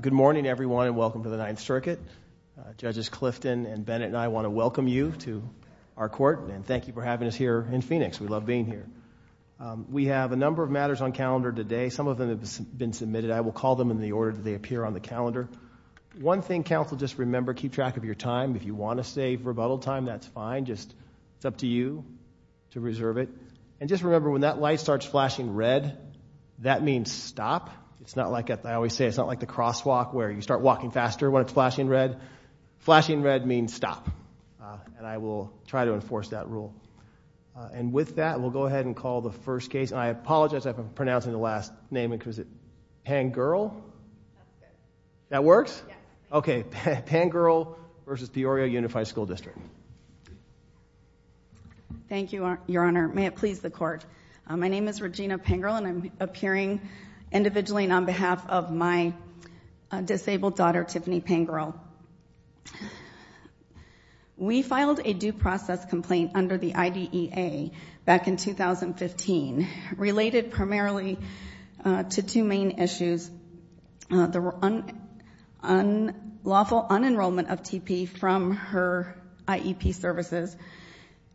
Good morning, everyone, and welcome to the Ninth Circuit. Judges Clifton and Bennett and I want to welcome you to our court, and thank you for having us here in Phoenix. We love being here. We have a number of matters on calendar today. Some of them have been submitted. I will call them in the order that they appear on the calendar. One thing, counsel, just remember, keep track of your time. If you want to save rebuttal time, that's fine. It's up to you to reserve it. And just remember, when that light starts flashing red, that means stop. It's not like I always say, it's not like the crosswalk where you start walking faster when it's flashing red. Flashing red means stop, and I will try to enforce that rule. And with that, we'll go ahead and call the first case. And I apologize, I've been pronouncing the last name because it's Pangerl. That works? Okay, Pangerl v. Peoria Unified School District. My name is Regina Pangerl, and I'm appearing individually and on behalf of my disabled daughter, Tiffany Pangerl. We filed a due process complaint under the IDEA back in 2015 related primarily to two main issues, the unlawful unenrollment of TP from her IEP services,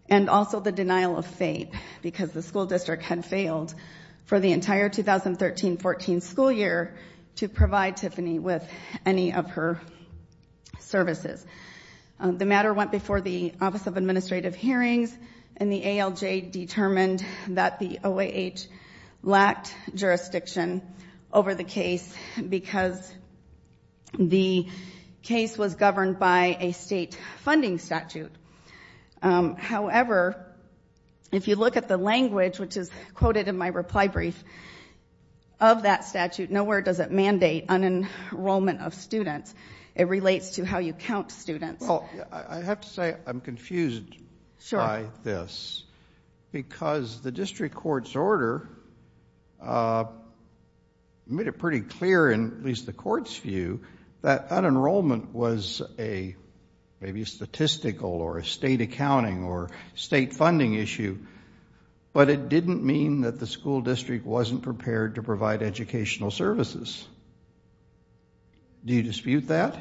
and also the denial of fate because the school district had failed for the entire 2013-14 school year to provide Tiffany with any of her services. The matter went before the Office of Administrative Hearings, and the ALJ determined that the OAH lacked jurisdiction over the case because the case was governed by a state funding statute. However, if you look at the language, which is quoted in my reply brief, of that statute, nowhere does it mandate unenrollment of students. It relates to how you count students. Well, I have to say I'm confused by this because the district court's order made it pretty clear, at least the court's view, that unenrollment was maybe a statistical or a state accounting or state funding issue, but it didn't mean that the school district wasn't prepared to provide educational services. Do you dispute that?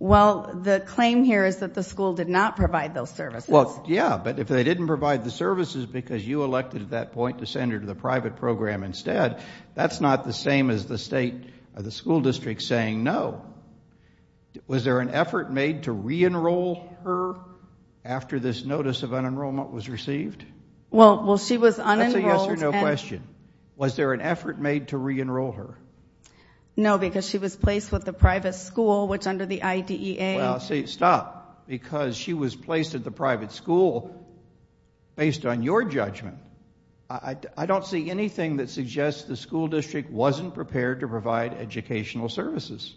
Well, the claim here is that the school did not provide those services. Well, yeah, but if they didn't provide the services because you elected at that point to send her to the private program instead, that's not the same as the school district saying no. Was there an effort made to re-enroll her after this notice of unenrollment was received? Well, she was unenrolled. That's a yes or no question. Was there an effort made to re-enroll her? No, because she was placed with the private school, which under the IDEA. Well, see, stop, because she was placed at the private school based on your judgment. I don't see anything that suggests the school district wasn't prepared to provide educational services.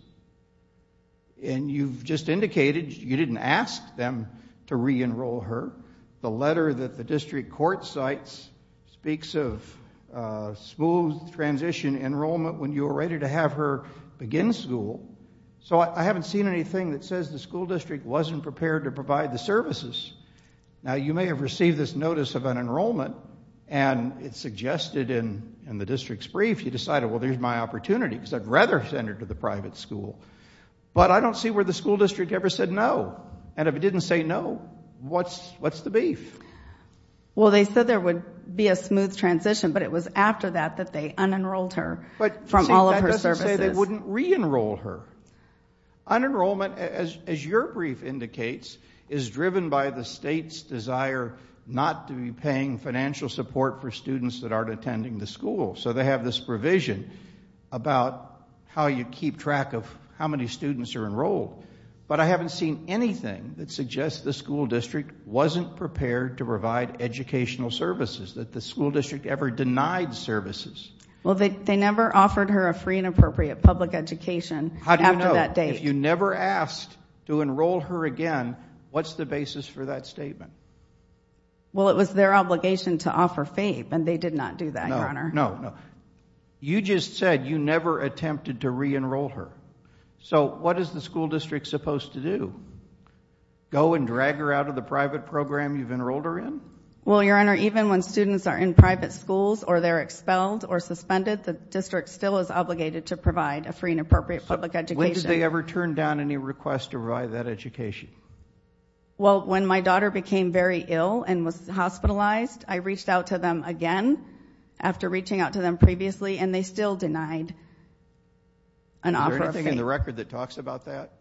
And you've just indicated you didn't ask them to re-enroll her. The letter that the district court cites speaks of smooth transition enrollment when you were ready to have her begin school. So I haven't seen anything that says the school district wasn't prepared to provide the services. Now, you may have received this notice of unenrollment, and it's suggested in the district's brief you decided, well, there's my opportunity because I'd rather send her to the private school. But I don't see where the school district ever said no. And if it didn't say no, what's the beef? Well, they said there would be a smooth transition, but it was after that that they unenrolled her from all of her services. But, see, that doesn't say they wouldn't re-enroll her. Unenrollment, as your brief indicates, is driven by the state's desire not to be paying financial support for students that aren't attending the school. So they have this provision about how you keep track of how many students are enrolled. But I haven't seen anything that suggests the school district wasn't prepared to provide educational services, that the school district ever denied services. Well, they never offered her a free and appropriate public education after that date. How do you know? If you never asked to enroll her again, what's the basis for that statement? Well, it was their obligation to offer FAPE, and they did not do that, Your Honor. No, no, no. You just said you never attempted to re-enroll her. So what is the school district supposed to do? Go and drag her out of the private program you've enrolled her in? Well, Your Honor, even when students are in private schools or they're expelled or suspended, the district still is obligated to provide a free and appropriate public education. When did they ever turn down any requests to provide that education? Well, when my daughter became very ill and was hospitalized, I reached out to them again after reaching out to them previously, and they still denied an offer of FAPE. Is there anything in the record that talks about that?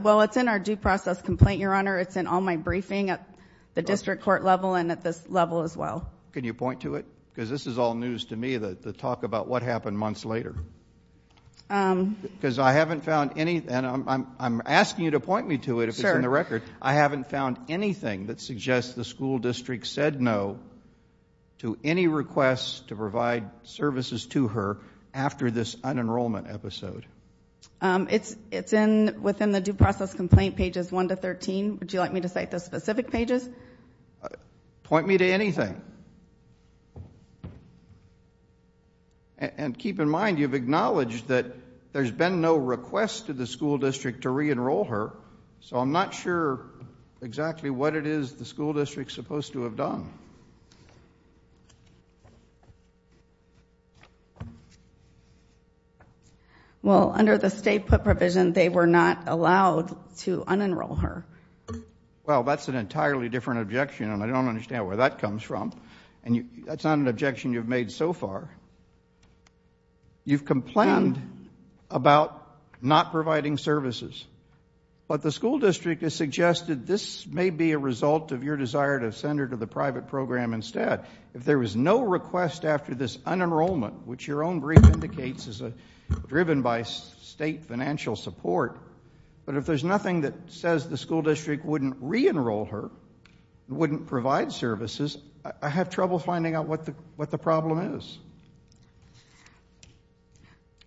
Well, it's in our due process complaint, Your Honor. It's in all my briefing at the district court level and at this level as well. Can you point to it? Because this is all news to me, the talk about what happened months later. Because I haven't found anything, and I'm asking you to point me to it if it's in the record. I haven't found anything that suggests the school district said no to any requests to provide services to her after this unenrollment episode. It's within the due process complaint pages 1 to 13. Would you like me to cite the specific pages? Point me to anything. And keep in mind you've acknowledged that there's been no request to the school district to re-enroll her, so I'm not sure exactly what it is the school district's supposed to have done. Well, under the state put provision, they were not allowed to unenroll her. Well, that's an entirely different objection, and I don't understand where that comes from. That's not an objection you've made so far. You've complained about not providing services, but the school district has suggested this may be a result of your desire to send her to the private program instead. If there was no request after this unenrollment, which your own brief indicates is driven by state financial support, but if there's nothing that says the school district wouldn't re-enroll her, wouldn't provide services, I have trouble finding out what the problem is.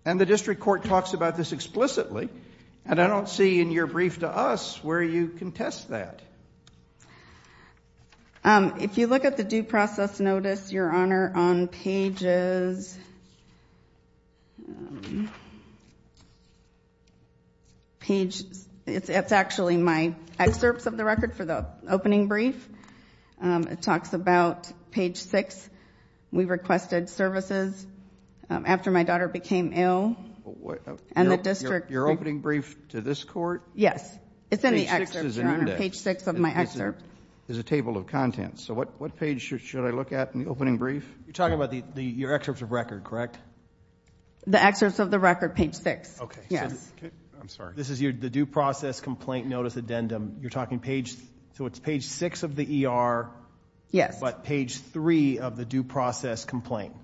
And the district court talks about this explicitly, and I don't see in your brief to us where you contest that. If you look at the due process notice, Your Honor, on pages, it's actually my excerpts of the record for the opening brief. It talks about page 6. We requested services after my daughter became ill, and the district. Your opening brief to this court? Yes. Page 6 is an index. Page 6 of my excerpt. It's a table of contents. So what page should I look at in the opening brief? You're talking about your excerpts of record, correct? The excerpts of the record, page 6. Okay. Yes. I'm sorry. This is the due process complaint notice addendum. You're talking page, so it's page 6 of the ER. Yes. But page 3 of the due process complaint.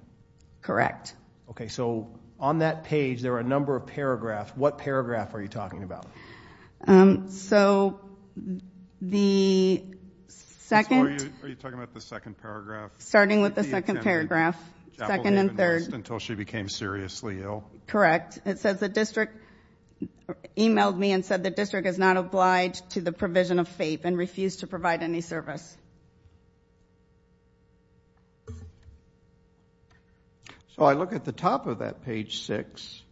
Correct. Okay. So on that page, there are a number of paragraphs. What paragraph are you talking about? So the second. Are you talking about the second paragraph? Starting with the second paragraph, second and third. Until she became seriously ill. Correct. It says the district e-mailed me and said the district is not obliged to the provision of FAPE and refused to provide any service. So I look at the top of that, page 6,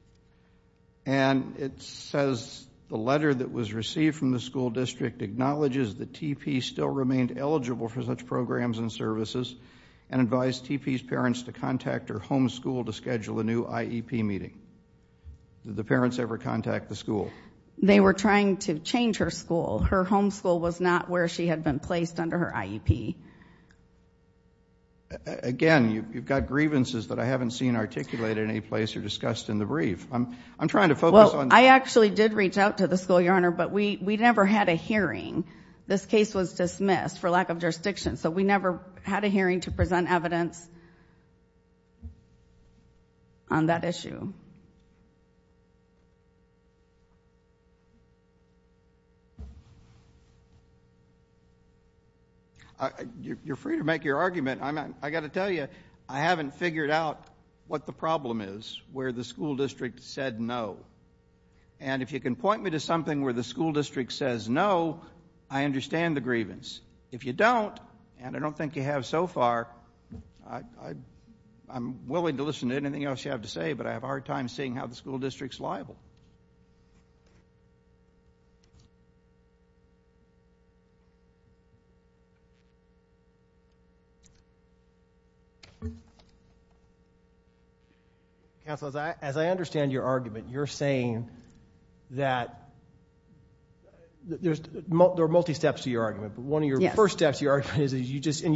and it says the letter that was received from the school district acknowledges that TP still remained eligible for such programs and services and advised TP's parents to Did the parents ever contact the school? They were trying to change her school. Her home school was not where she had been placed under her IEP. Again, you've got grievances that I haven't seen articulated in any place or discussed in the brief. I'm trying to focus on this. Well, I actually did reach out to the school, Your Honor, but we never had a hearing. This case was dismissed for lack of jurisdiction, so we never had a hearing to present evidence on that issue. You're free to make your argument. I've got to tell you, I haven't figured out what the problem is where the school district said no. And if you can point me to something where the school district says no, I understand the grievance. If you don't, and I don't think you have so far, I'm willing to listen to anything else you have to say, but I have a hard time seeing how the school district's liable. Counsel, as I understand your argument, you're saying that there are multi-steps to your argument, but one of your first steps to your argument, and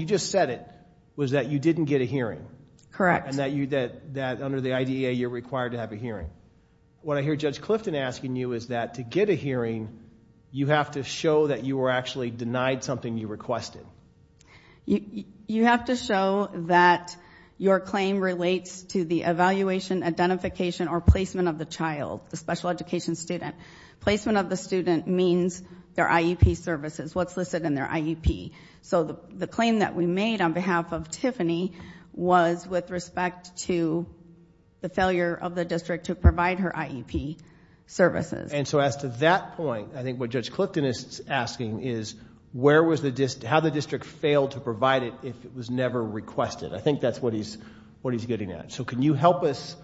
you just said it, was that you didn't get a hearing. Correct. And that under the IDEA you're required to have a hearing. What I hear Judge Clifton asking you is that to get a hearing, you have to show that you were actually denied something you requested. You have to show that your claim relates to the evaluation, identification, or placement of the child, the special education student. Placement of the student means their IEP services, what's listed in their IEP. So the claim that we made on behalf of Tiffany was with respect to the failure of the district to provide her IEP services. And so as to that point, I think what Judge Clifton is asking is how the district failed to provide it if it was never requested. I think that's what he's getting at. So can you help us,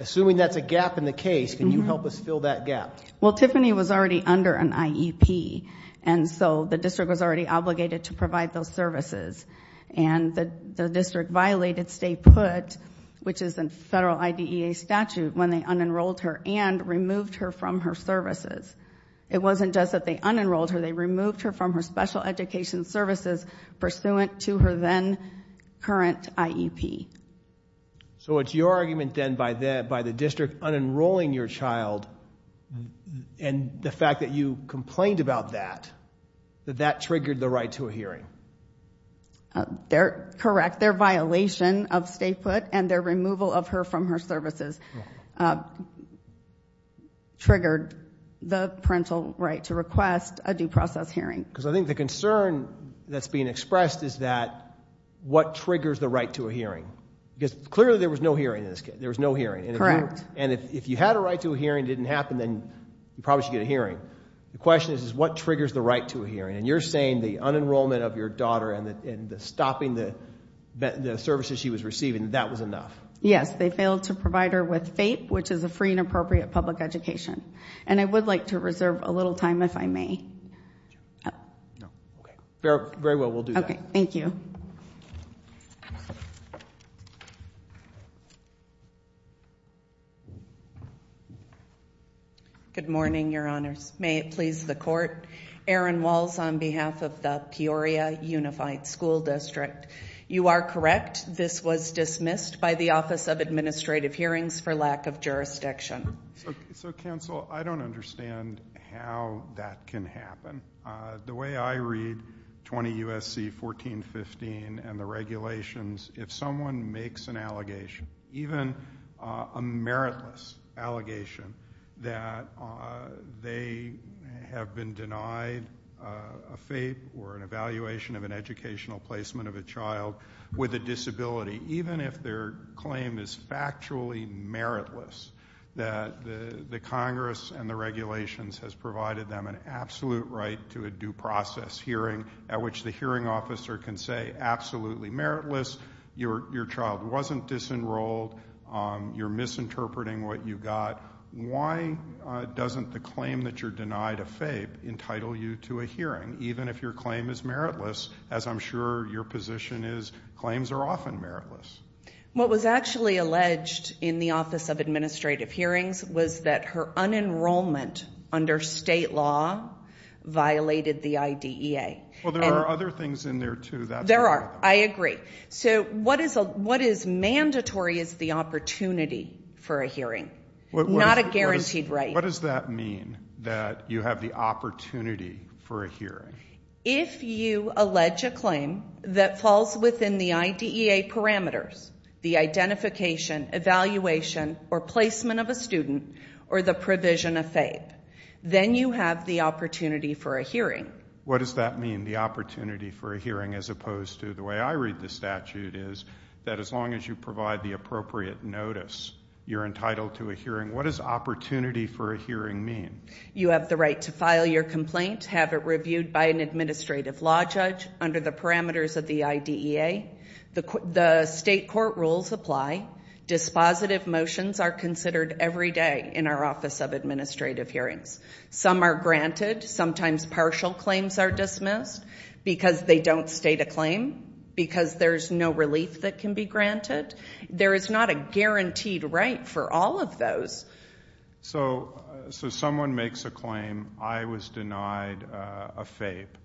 assuming that's a gap in the case, can you help us fill that gap? Well, Tiffany was already under an IEP, and so the district was already obligated to provide those services. And the district violated state put, which is a federal IDEA statute, when they unenrolled her and removed her from her services. It wasn't just that they unenrolled her, they removed her from her special education services pursuant to her then current IEP. So it's your argument then by the district unenrolling your child and the fact that you complained about that, that that triggered the right to a hearing. Correct. Their violation of state put and their removal of her from her services triggered the parental right to request a due process hearing. Because I think the concern that's being expressed is that what triggers the right to a hearing? Because clearly there was no hearing in this case. There was no hearing. Correct. And if you had a right to a hearing and it didn't happen, then you probably should get a hearing. The question is what triggers the right to a hearing? And you're saying the unenrollment of your daughter and stopping the services she was receiving, that that was enough. Yes, they failed to provide her with FAPE, which is a free and appropriate public education. And I would like to reserve a little time if I may. Very well, we'll do that. All right. Thank you. Good morning, Your Honors. May it please the Court. Aaron Walls on behalf of the Peoria Unified School District. You are correct. This was dismissed by the Office of Administrative Hearings for lack of jurisdiction. So, Counsel, I don't understand how that can happen. The way I read 20 U.S.C. 1415 and the regulations, if someone makes an allegation, even a meritless allegation, that they have been denied a FAPE or an evaluation of an educational placement of a child with a disability, even if their claim is factually meritless, that the Congress and the regulations has provided them an absolute right to a due process hearing at which the hearing officer can say absolutely meritless, your child wasn't disenrolled, you're misinterpreting what you got. Why doesn't the claim that you're denied a FAPE entitle you to a hearing, even if your claim is meritless, as I'm sure your position is. Claims are often meritless. What was actually alleged in the Office of Administrative Hearings was that her unenrollment under state law violated the IDEA. Well, there are other things in there, too. There are. I agree. So what is mandatory is the opportunity for a hearing, not a guaranteed right. What does that mean, that you have the opportunity for a hearing? If you allege a claim that falls within the IDEA parameters, the identification, evaluation, or placement of a student, or the provision of FAPE, then you have the opportunity for a hearing. What does that mean, the opportunity for a hearing, as opposed to the way I read the statute is that as long as you provide the appropriate notice, you're entitled to a hearing. What does opportunity for a hearing mean? You have the right to file your complaint, have it reviewed by an administrative law judge under the parameters of the IDEA. The state court rules apply. Dispositive motions are considered every day in our Office of Administrative Hearings. Some are granted. Sometimes partial claims are dismissed because they don't state a claim, because there's no relief that can be granted. There is not a guaranteed right for all of those. So someone makes a claim, I was denied a FAPE,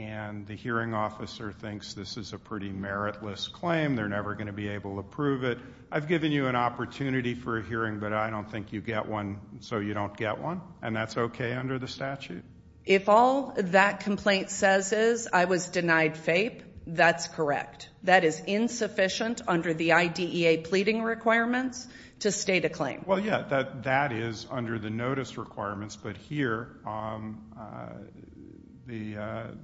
and the hearing officer thinks this is a pretty meritless claim, they're never going to be able to prove it. I've given you an opportunity for a hearing, but I don't think you get one so you don't get one, and that's okay under the statute? If all that complaint says is I was denied FAPE, that's correct. That is insufficient under the IDEA pleading requirements to state a claim. Well, yeah, that is under the notice requirements, but here Mrs.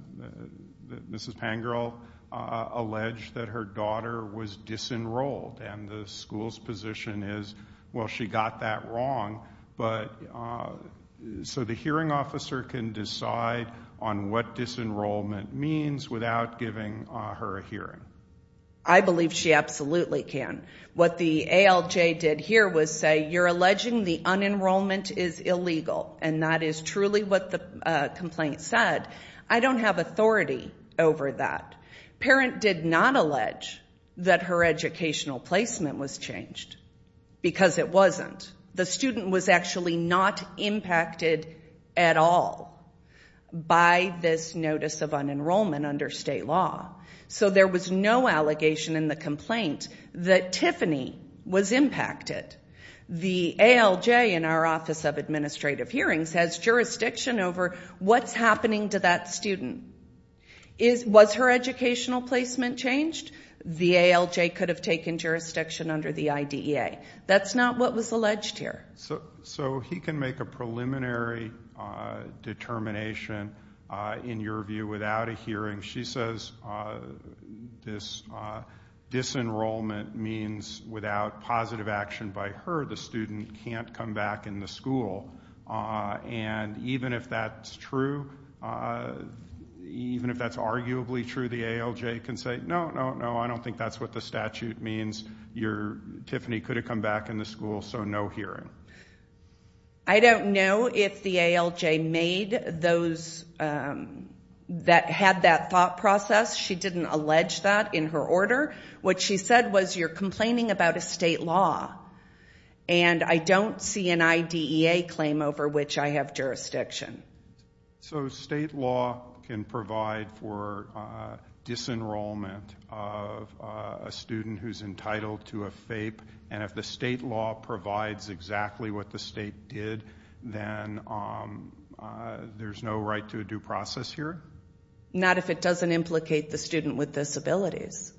Pangirl alleged that her daughter was disenrolled, and the school's position is, well, she got that wrong. So the hearing officer can decide on what disenrollment means without giving her a hearing. I believe she absolutely can. What the ALJ did here was say you're alleging the unenrollment is illegal, and that is truly what the complaint said. I don't have authority over that. Parent did not allege that her educational placement was changed because it wasn't. The student was actually not impacted at all by this notice of unenrollment under state law. So there was no allegation in the complaint that Tiffany was impacted. The ALJ in our Office of Administrative Hearings has jurisdiction over what's happening to that student. Was her educational placement changed? The ALJ could have taken jurisdiction under the IDEA. That's not what was alleged here. So he can make a preliminary determination, in your view, without a hearing. She says this disenrollment means without positive action by her, the student can't come back in the school. And even if that's true, even if that's arguably true, the ALJ can say, no, no, no, I don't think that's what the statute means. Tiffany could have come back in the school, so no hearing. I don't know if the ALJ made those that had that thought process. She didn't allege that in her order. What she said was you're complaining about a state law, and I don't see an IDEA claim over which I have jurisdiction. So state law can provide for disenrollment of a student who's entitled to a FAPE, and if the state law provides exactly what the state did, then there's no right to a due process here? Not if it doesn't implicate the student with disabilities.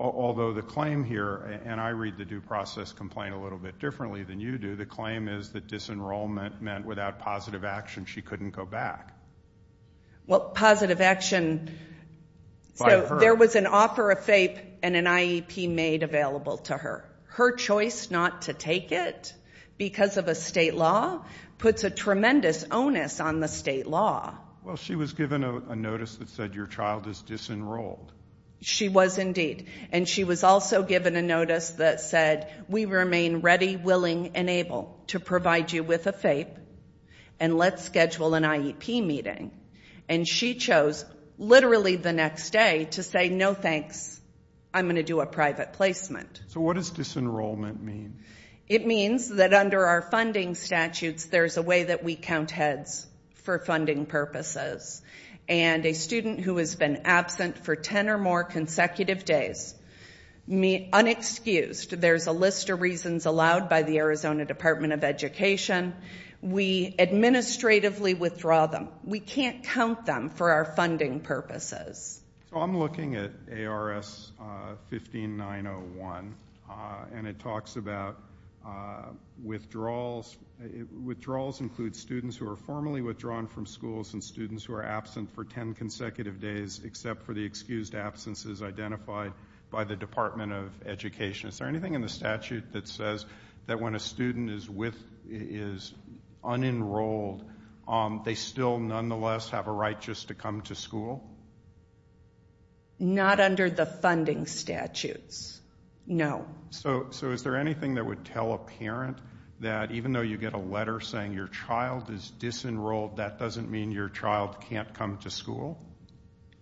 Although the claim here, and I read the due process complaint a little bit differently than you do, the claim is that disenrollment meant without positive action she couldn't go back. Well, positive action, so there was an offer of FAPE and an IEP made available to her. Her choice not to take it because of a state law puts a tremendous onus on the state law. Well, she was given a notice that said your child is disenrolled. She was indeed, and she was also given a notice that said we remain ready, willing, and able to provide you with a FAPE, and let's schedule an IEP meeting. And she chose literally the next day to say no thanks, I'm going to do a private placement. So what does disenrollment mean? It means that under our funding statutes there's a way that we count heads for funding purposes, and a student who has been absent for ten or more consecutive days, unexcused. There's a list of reasons allowed by the Arizona Department of Education. We administratively withdraw them. We can't count them for our funding purposes. I'm looking at ARS 15901, and it talks about withdrawals. Withdrawals include students who are formally withdrawn from schools and students who are absent for ten consecutive days except for the excused absences identified by the Department of Education. Is there anything in the statute that says that when a student is unenrolled, they still nonetheless have a right just to come to school? Not under the funding statutes, no. So is there anything that would tell a parent that even though you get a letter saying your child is disenrolled, that doesn't mean your child can't come to school?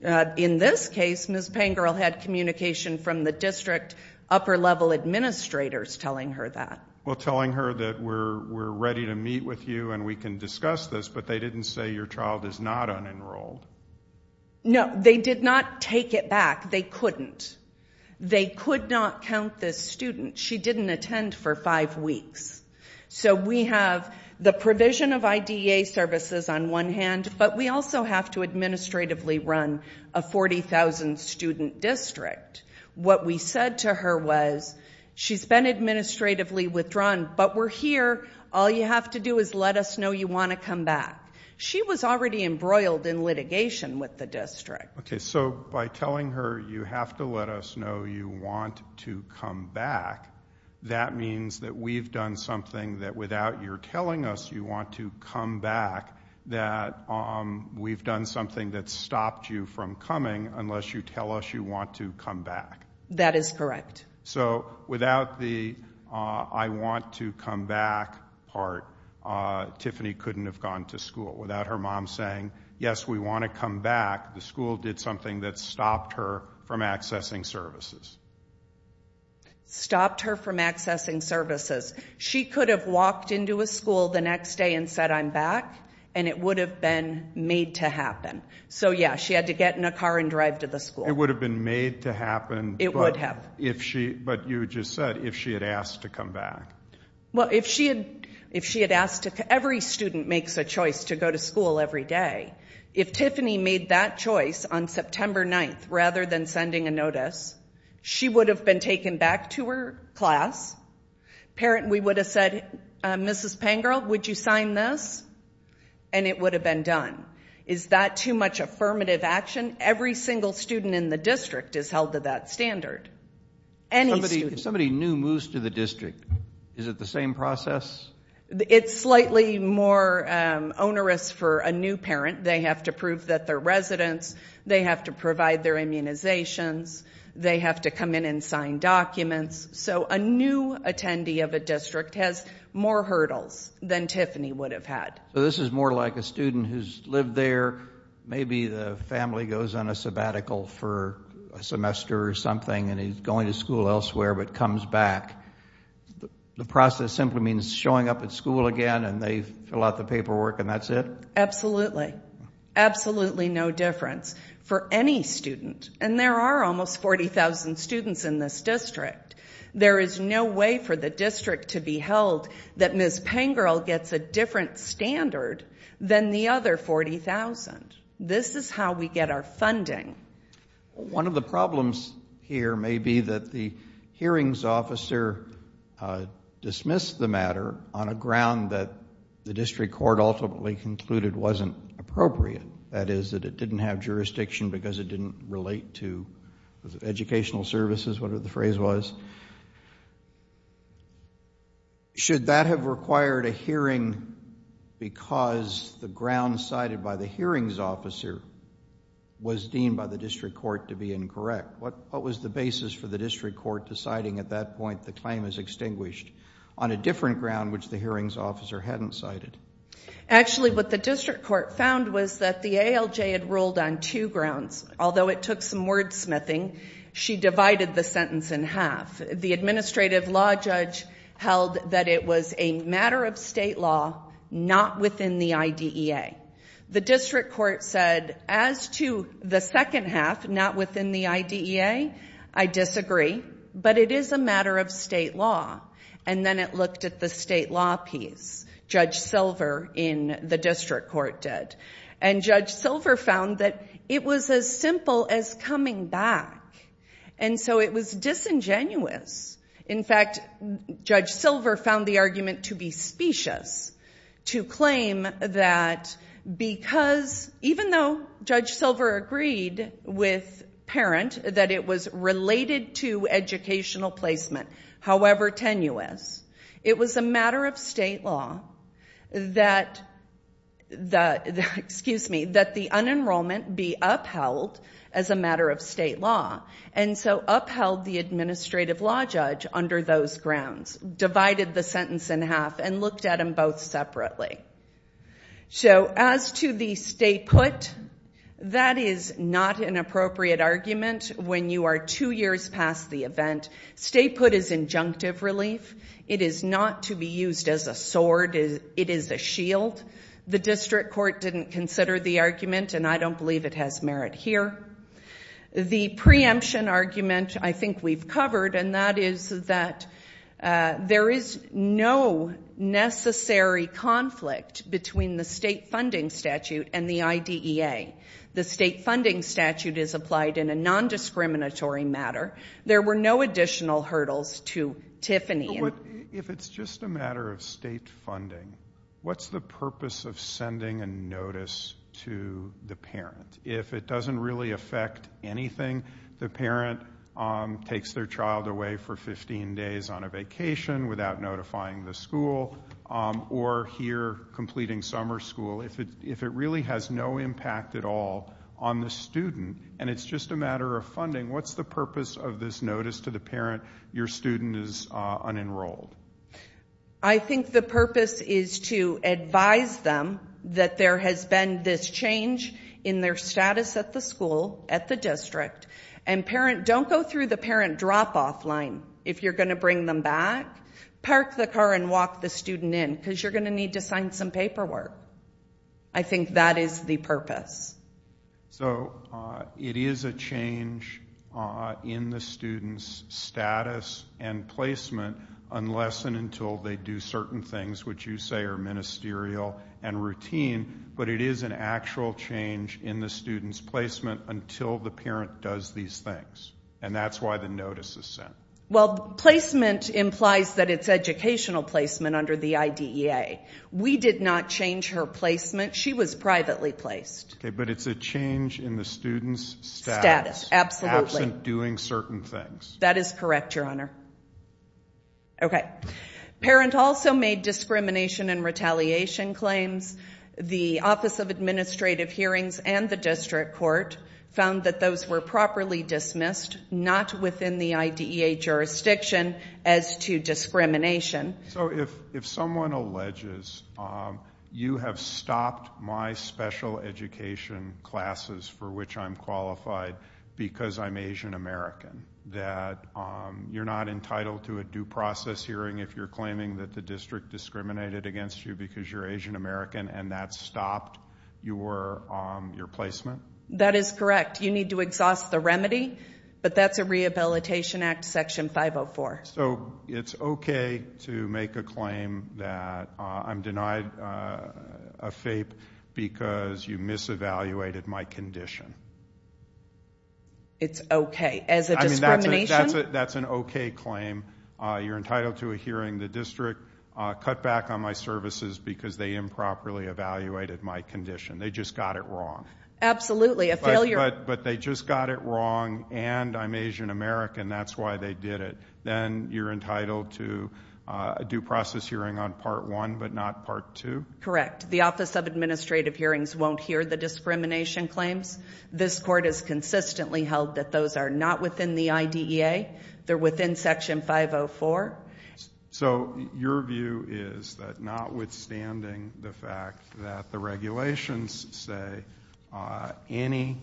In this case, Ms. Pangirl had communication from the district upper-level administrators telling her that. Well, telling her that we're ready to meet with you and we can discuss this, but they didn't say your child is not unenrolled. No, they did not take it back. They couldn't. They could not count this student. She didn't attend for five weeks. So we have the provision of IDEA services on one hand, but we also have to administratively run a 40,000-student district. What we said to her was she's been administratively withdrawn, but we're here. All you have to do is let us know you want to come back. She was already embroiled in litigation with the district. Okay, so by telling her you have to let us know you want to come back, that means that we've done something that without your telling us you want to come back, that we've done something that's stopped you from coming unless you tell us you want to come back. That is correct. So without the I want to come back part, Tiffany couldn't have gone to school. Without her mom saying, yes, we want to come back, the school did something that stopped her from accessing services. Stopped her from accessing services. She could have walked into a school the next day and said I'm back, and it would have been made to happen. So, yeah, she had to get in a car and drive to the school. It would have been made to happen. It would have. But you just said if she had asked to come back. Well, if she had asked to come back, every student makes a choice to go to school every day. If Tiffany made that choice on September 9th, rather than sending a notice, she would have been taken back to her class. We would have said, Mrs. Pangirl, would you sign this? And it would have been done. Is that too much affirmative action? Every single student in the district is held to that standard. If somebody new moves to the district, is it the same process? It's slightly more onerous for a new parent. They have to prove that they're residents. They have to provide their immunizations. They have to come in and sign documents. So a new attendee of a district has more hurdles than Tiffany would have had. So this is more like a student who's lived there, maybe the family goes on a sabbatical for a semester or something, and he's going to school elsewhere but comes back. The process simply means showing up at school again, and they fill out the paperwork, and that's it? Absolutely. Absolutely no difference for any student. And there are almost 40,000 students in this district. There is no way for the district to be held that Mrs. Pangirl gets a different standard than the other 40,000. This is how we get our funding. One of the problems here may be that the hearings officer dismissed the matter on a ground that the district court ultimately concluded wasn't appropriate, that is, that it didn't have jurisdiction because it didn't relate to educational services, whatever the phrase was. Should that have required a hearing because the ground cited by the hearings officer was deemed by the district court to be incorrect? What was the basis for the district court deciding at that point the claim is extinguished on a different ground which the hearings officer hadn't cited? Actually, what the district court found was that the ALJ had ruled on two grounds. Although it took some wordsmithing, she divided the sentence in half. The administrative law judge held that it was a matter of state law, not within the IDEA. The district court said, as to the second half, not within the IDEA, I disagree, but it is a matter of state law. And then it looked at the state law piece. Judge Silver in the district court did. And Judge Silver found that it was as simple as coming back. And so it was disingenuous. In fact, Judge Silver found the argument to be specious, to claim that because even though Judge Silver agreed with Parent that it was related to educational placement, however tenuous, it was a matter of state law that the unenrollment be upheld as a matter of state law. And so upheld the administrative law judge under those grounds, divided the sentence in half, and looked at them both separately. So as to the stay put, that is not an appropriate argument when you are two years past the event. Stay put is injunctive relief. It is not to be used as a sword. It is a shield. The district court didn't consider the argument, and I don't believe it has merit here. The preemption argument I think we've covered, and that is that there is no necessary conflict between the state funding statute and the IDEA. The state funding statute is applied in a nondiscriminatory matter. There were no additional hurdles to Tiffany. If it's just a matter of state funding, what's the purpose of sending a notice to the parent? If it doesn't really affect anything, the parent takes their child away for 15 days on a vacation without notifying the school or here completing summer school. If it really has no impact at all on the student and it's just a matter of funding, what's the purpose of this notice to the parent your student is unenrolled? I think the purpose is to advise them that there has been this change in their status at the school, at the district, and don't go through the parent drop-off line if you're going to bring them back. Park the car and walk the student in because you're going to need to sign some paperwork. I think that is the purpose. So it is a change in the student's status and placement unless and until they do certain things which you say are ministerial and routine, but it is an actual change in the student's placement until the parent does these things, and that's why the notice is sent. Well, placement implies that it's educational placement under the IDEA. We did not change her placement. She was privately placed. Okay, but it's a change in the student's status. Status, absolutely. Absent doing certain things. That is correct, Your Honor. Okay. Parent also made discrimination and retaliation claims. The Office of Administrative Hearings and the district court found that those were properly dismissed, not within the IDEA jurisdiction as to discrimination. So if someone alleges you have stopped my special education classes for which I'm qualified because I'm Asian American, that you're not entitled to a due process hearing if you're claiming that the district discriminated against you because you're Asian American and that stopped your placement? That is correct. You need to exhaust the remedy, but that's a Rehabilitation Act Section 504. So it's okay to make a claim that I'm denied a FAPE because you misevaluated my condition? It's okay. As a discrimination? That's an okay claim. You're entitled to a hearing. The district cut back on my services because they improperly evaluated my condition. They just got it wrong. Absolutely, a failure. But they just got it wrong, and I'm Asian American. That's why they did it. Then you're entitled to a due process hearing on Part 1 but not Part 2? Correct. The Office of Administrative Hearings won't hear the discrimination claims. This court has consistently held that those are not within the IDEA. They're within Section 504. So your view is that notwithstanding the fact that the regulations say any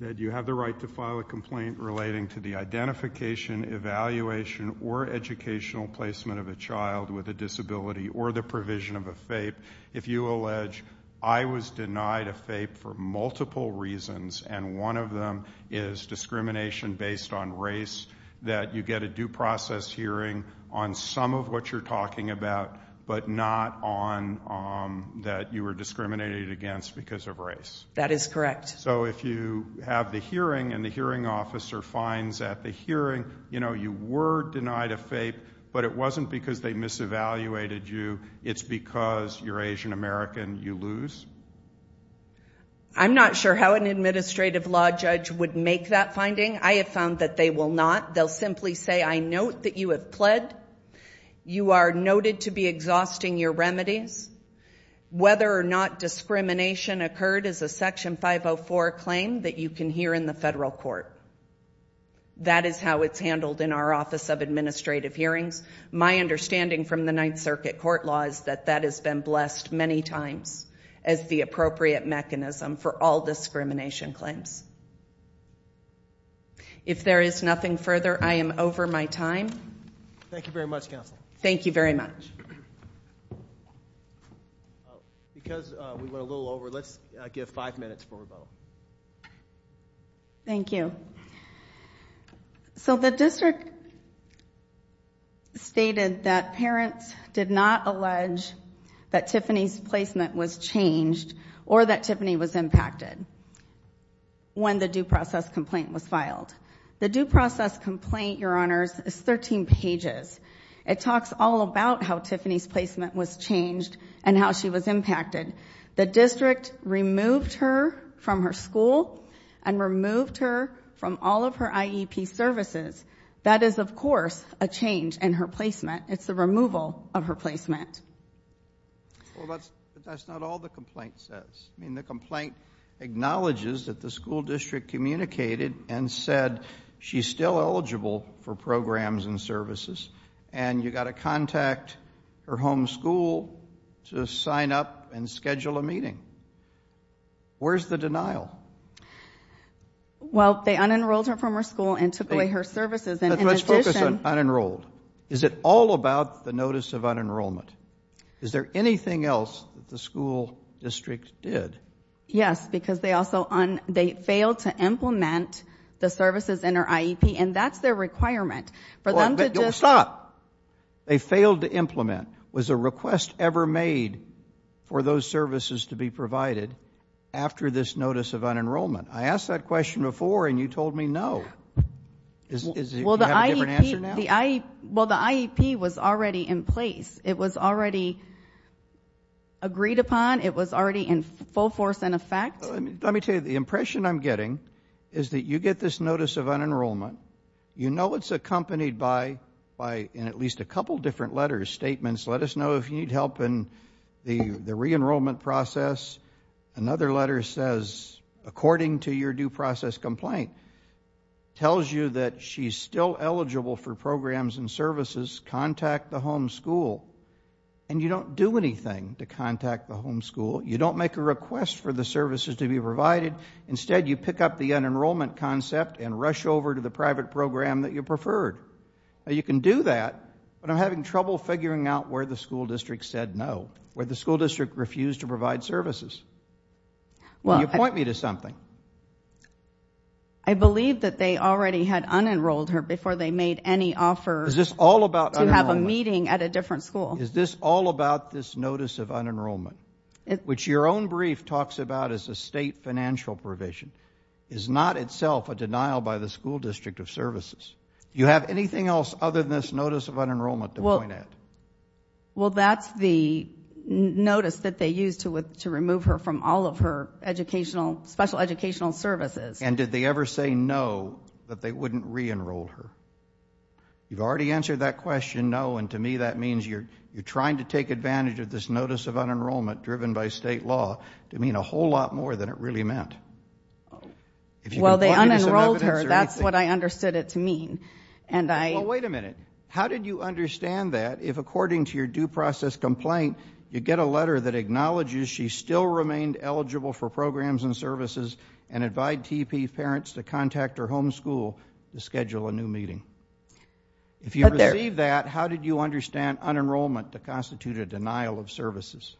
that you have the right to file a complaint relating to the identification, evaluation, or educational placement of a child with a disability or the provision of a FAPE, if you allege I was denied a FAPE for multiple reasons, and one of them is discrimination based on race, that you get a due process hearing on some of what you're talking about but not on that you were discriminated against because of race? That is correct. So if you have the hearing and the hearing officer finds at the hearing you were denied a FAPE, but it wasn't because they misevaluated you, it's because you're Asian American, you lose? I'm not sure how an administrative law judge would make that finding. I have found that they will not. They'll simply say, I note that you have pled. You are noted to be exhausting your remedies. Whether or not discrimination occurred is a Section 504 claim that you can hear in the federal court. That is how it's handled in our Office of Administrative Hearings. My understanding from the Ninth Circuit court law is that that has been blessed many times as the appropriate mechanism for all discrimination claims. If there is nothing further, I am over my time. Thank you very much, Counsel. Thank you very much. Because we went a little over, let's give five minutes for rebuttal. Thank you. So the district stated that parents did not allege that Tiffany's placement was changed or that Tiffany was impacted when the due process complaint was filed. The due process complaint, Your Honors, is 13 pages. It talks all about how Tiffany's placement was changed and how she was impacted. The district removed her from her school and removed her from all of her IEP services. That is, of course, a change in her placement. It's the removal of her placement. Well, that's not all the complaint says. I mean, the complaint acknowledges that the school district communicated and said she's still eligible for programs and services, and you've got to contact her home school to sign up and schedule a meeting. Where's the denial? Well, they unenrolled her from her school and took away her services. Let's focus on unenrolled. Is it all about the notice of unenrollment? Is there anything else that the school district did? Yes, because they failed to implement the services in her IEP, and that's their requirement. Stop. They failed to implement. Was a request ever made for those services to be provided after this notice of unenrollment? I asked that question before, and you told me no. Do you have a different answer now? Well, the IEP was already in place. It was already agreed upon. It was already in full force and effect. Let me tell you, the impression I'm getting is that you get this notice of unenrollment. You know it's accompanied by, in at least a couple different letters, statements, let us know if you need help in the reenrollment process. Another letter says, according to your due process complaint, tells you that she's still eligible for programs and services. Contact the home school. And you don't do anything to contact the home school. You don't make a request for the services to be provided. Instead, you pick up the unenrollment concept and rush over to the private program that you preferred. You can do that, but I'm having trouble figuring out where the school district said no, where the school district refused to provide services. Will you point me to something? I believe that they already had unenrolled her before they made any offer to have a meeting at a different school. Is this all about this notice of unenrollment, which your own brief talks about as a state financial provision, is not itself a denial by the school district of services? Do you have anything else other than this notice of unenrollment to point at? Well, that's the notice that they used to remove her from all of her special educational services. And did they ever say no, that they wouldn't reenroll her? You've already answered that question, no. And to me, that means you're trying to take advantage of this notice of unenrollment driven by state law to mean a whole lot more than it really meant. Well, they unenrolled her. That's what I understood it to mean. Well, wait a minute. How did you understand that if, according to your due process complaint, you get a letter that acknowledges she still remained eligible for programs and services and invite TEP parents to contact her home school to schedule a new meeting? If you receive that, how did you understand unenrollment to constitute a denial of services?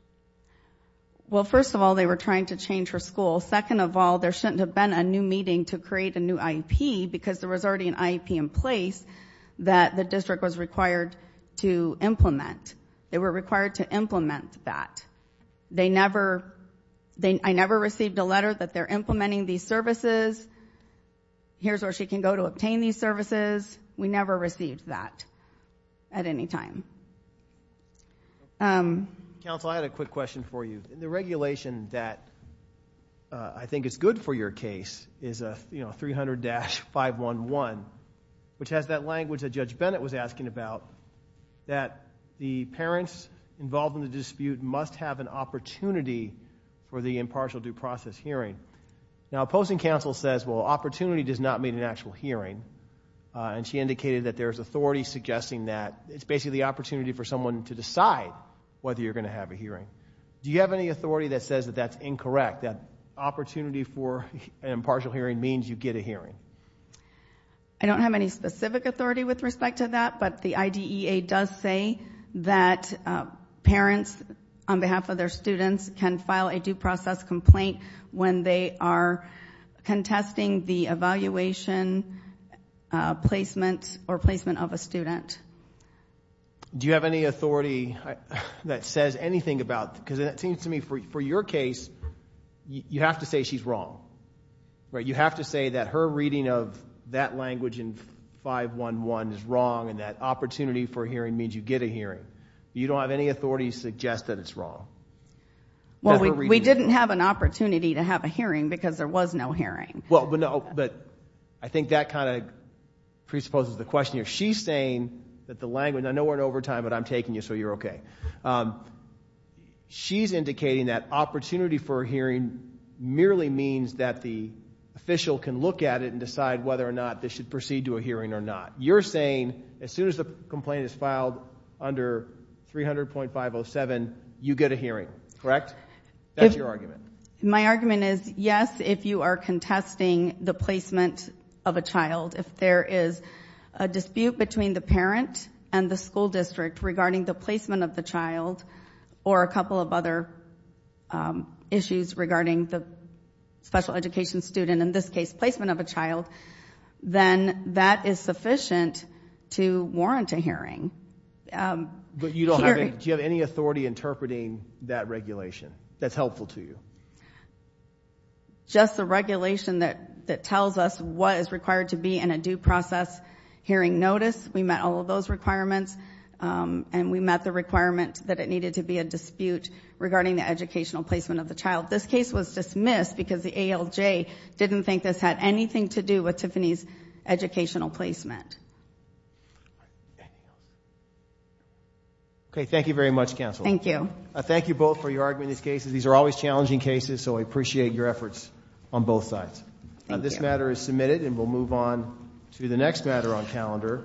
Well, first of all, they were trying to change her school. Second of all, there shouldn't have been a new meeting to create a new IEP because there was already an IEP in place that the district was required to implement. They were required to implement that. I never received a letter that they're implementing these services. Here's where she can go to obtain these services. We never received that at any time. Counsel, I had a quick question for you. The regulation that I think is good for your case is 300-511, which has that language that Judge Bennett was asking about, that the parents involved in the dispute must have an opportunity for the impartial due process hearing. Now, opposing counsel says, well, opportunity does not mean an actual hearing, and she indicated that there's authority suggesting that it's basically the opportunity for someone to decide whether you're going to have a hearing. Do you have any authority that says that that's incorrect, that opportunity for an impartial hearing means you get a hearing? I don't have any specific authority with respect to that, but the IDEA does say that parents, on behalf of their students, can file a due process complaint when they are contesting the evaluation placement or placement of a student. Do you have any authority that says anything about that? Because it seems to me, for your case, you have to say she's wrong. You have to say that her reading of that language in 511 is wrong and that opportunity for a hearing means you get a hearing. You don't have any authority to suggest that it's wrong? Well, we didn't have an opportunity to have a hearing because there was no hearing. Well, but I think that kind of presupposes the question here. She's saying that the language, and I know we're in overtime, but I'm taking you, so you're okay. She's indicating that opportunity for a hearing merely means that the official can look at it and decide whether or not they should proceed to a hearing or not. You're saying as soon as the complaint is filed under 300.507, you get a hearing, correct? That's your argument. My argument is, yes, if you are contesting the placement of a child, if there is a dispute between the parent and the school district regarding the placement of the child or a couple of other issues regarding the special education student, in this case, placement of a child, then that is sufficient to warrant a hearing. But do you have any authority interpreting that regulation that's helpful to you? Just the regulation that tells us what is required to be in a due process hearing notice, we met all of those requirements, and we met the requirement that it needed to be a dispute regarding the educational placement of the child. This case was dismissed because the ALJ didn't think this had anything to do with Tiffany's educational placement. Okay, thank you very much, Counsel. Thank you. Thank you both for your argument in this case. These are always challenging cases, so I appreciate your efforts on both sides. This matter is submitted, and we'll move on to the next matter on calendar.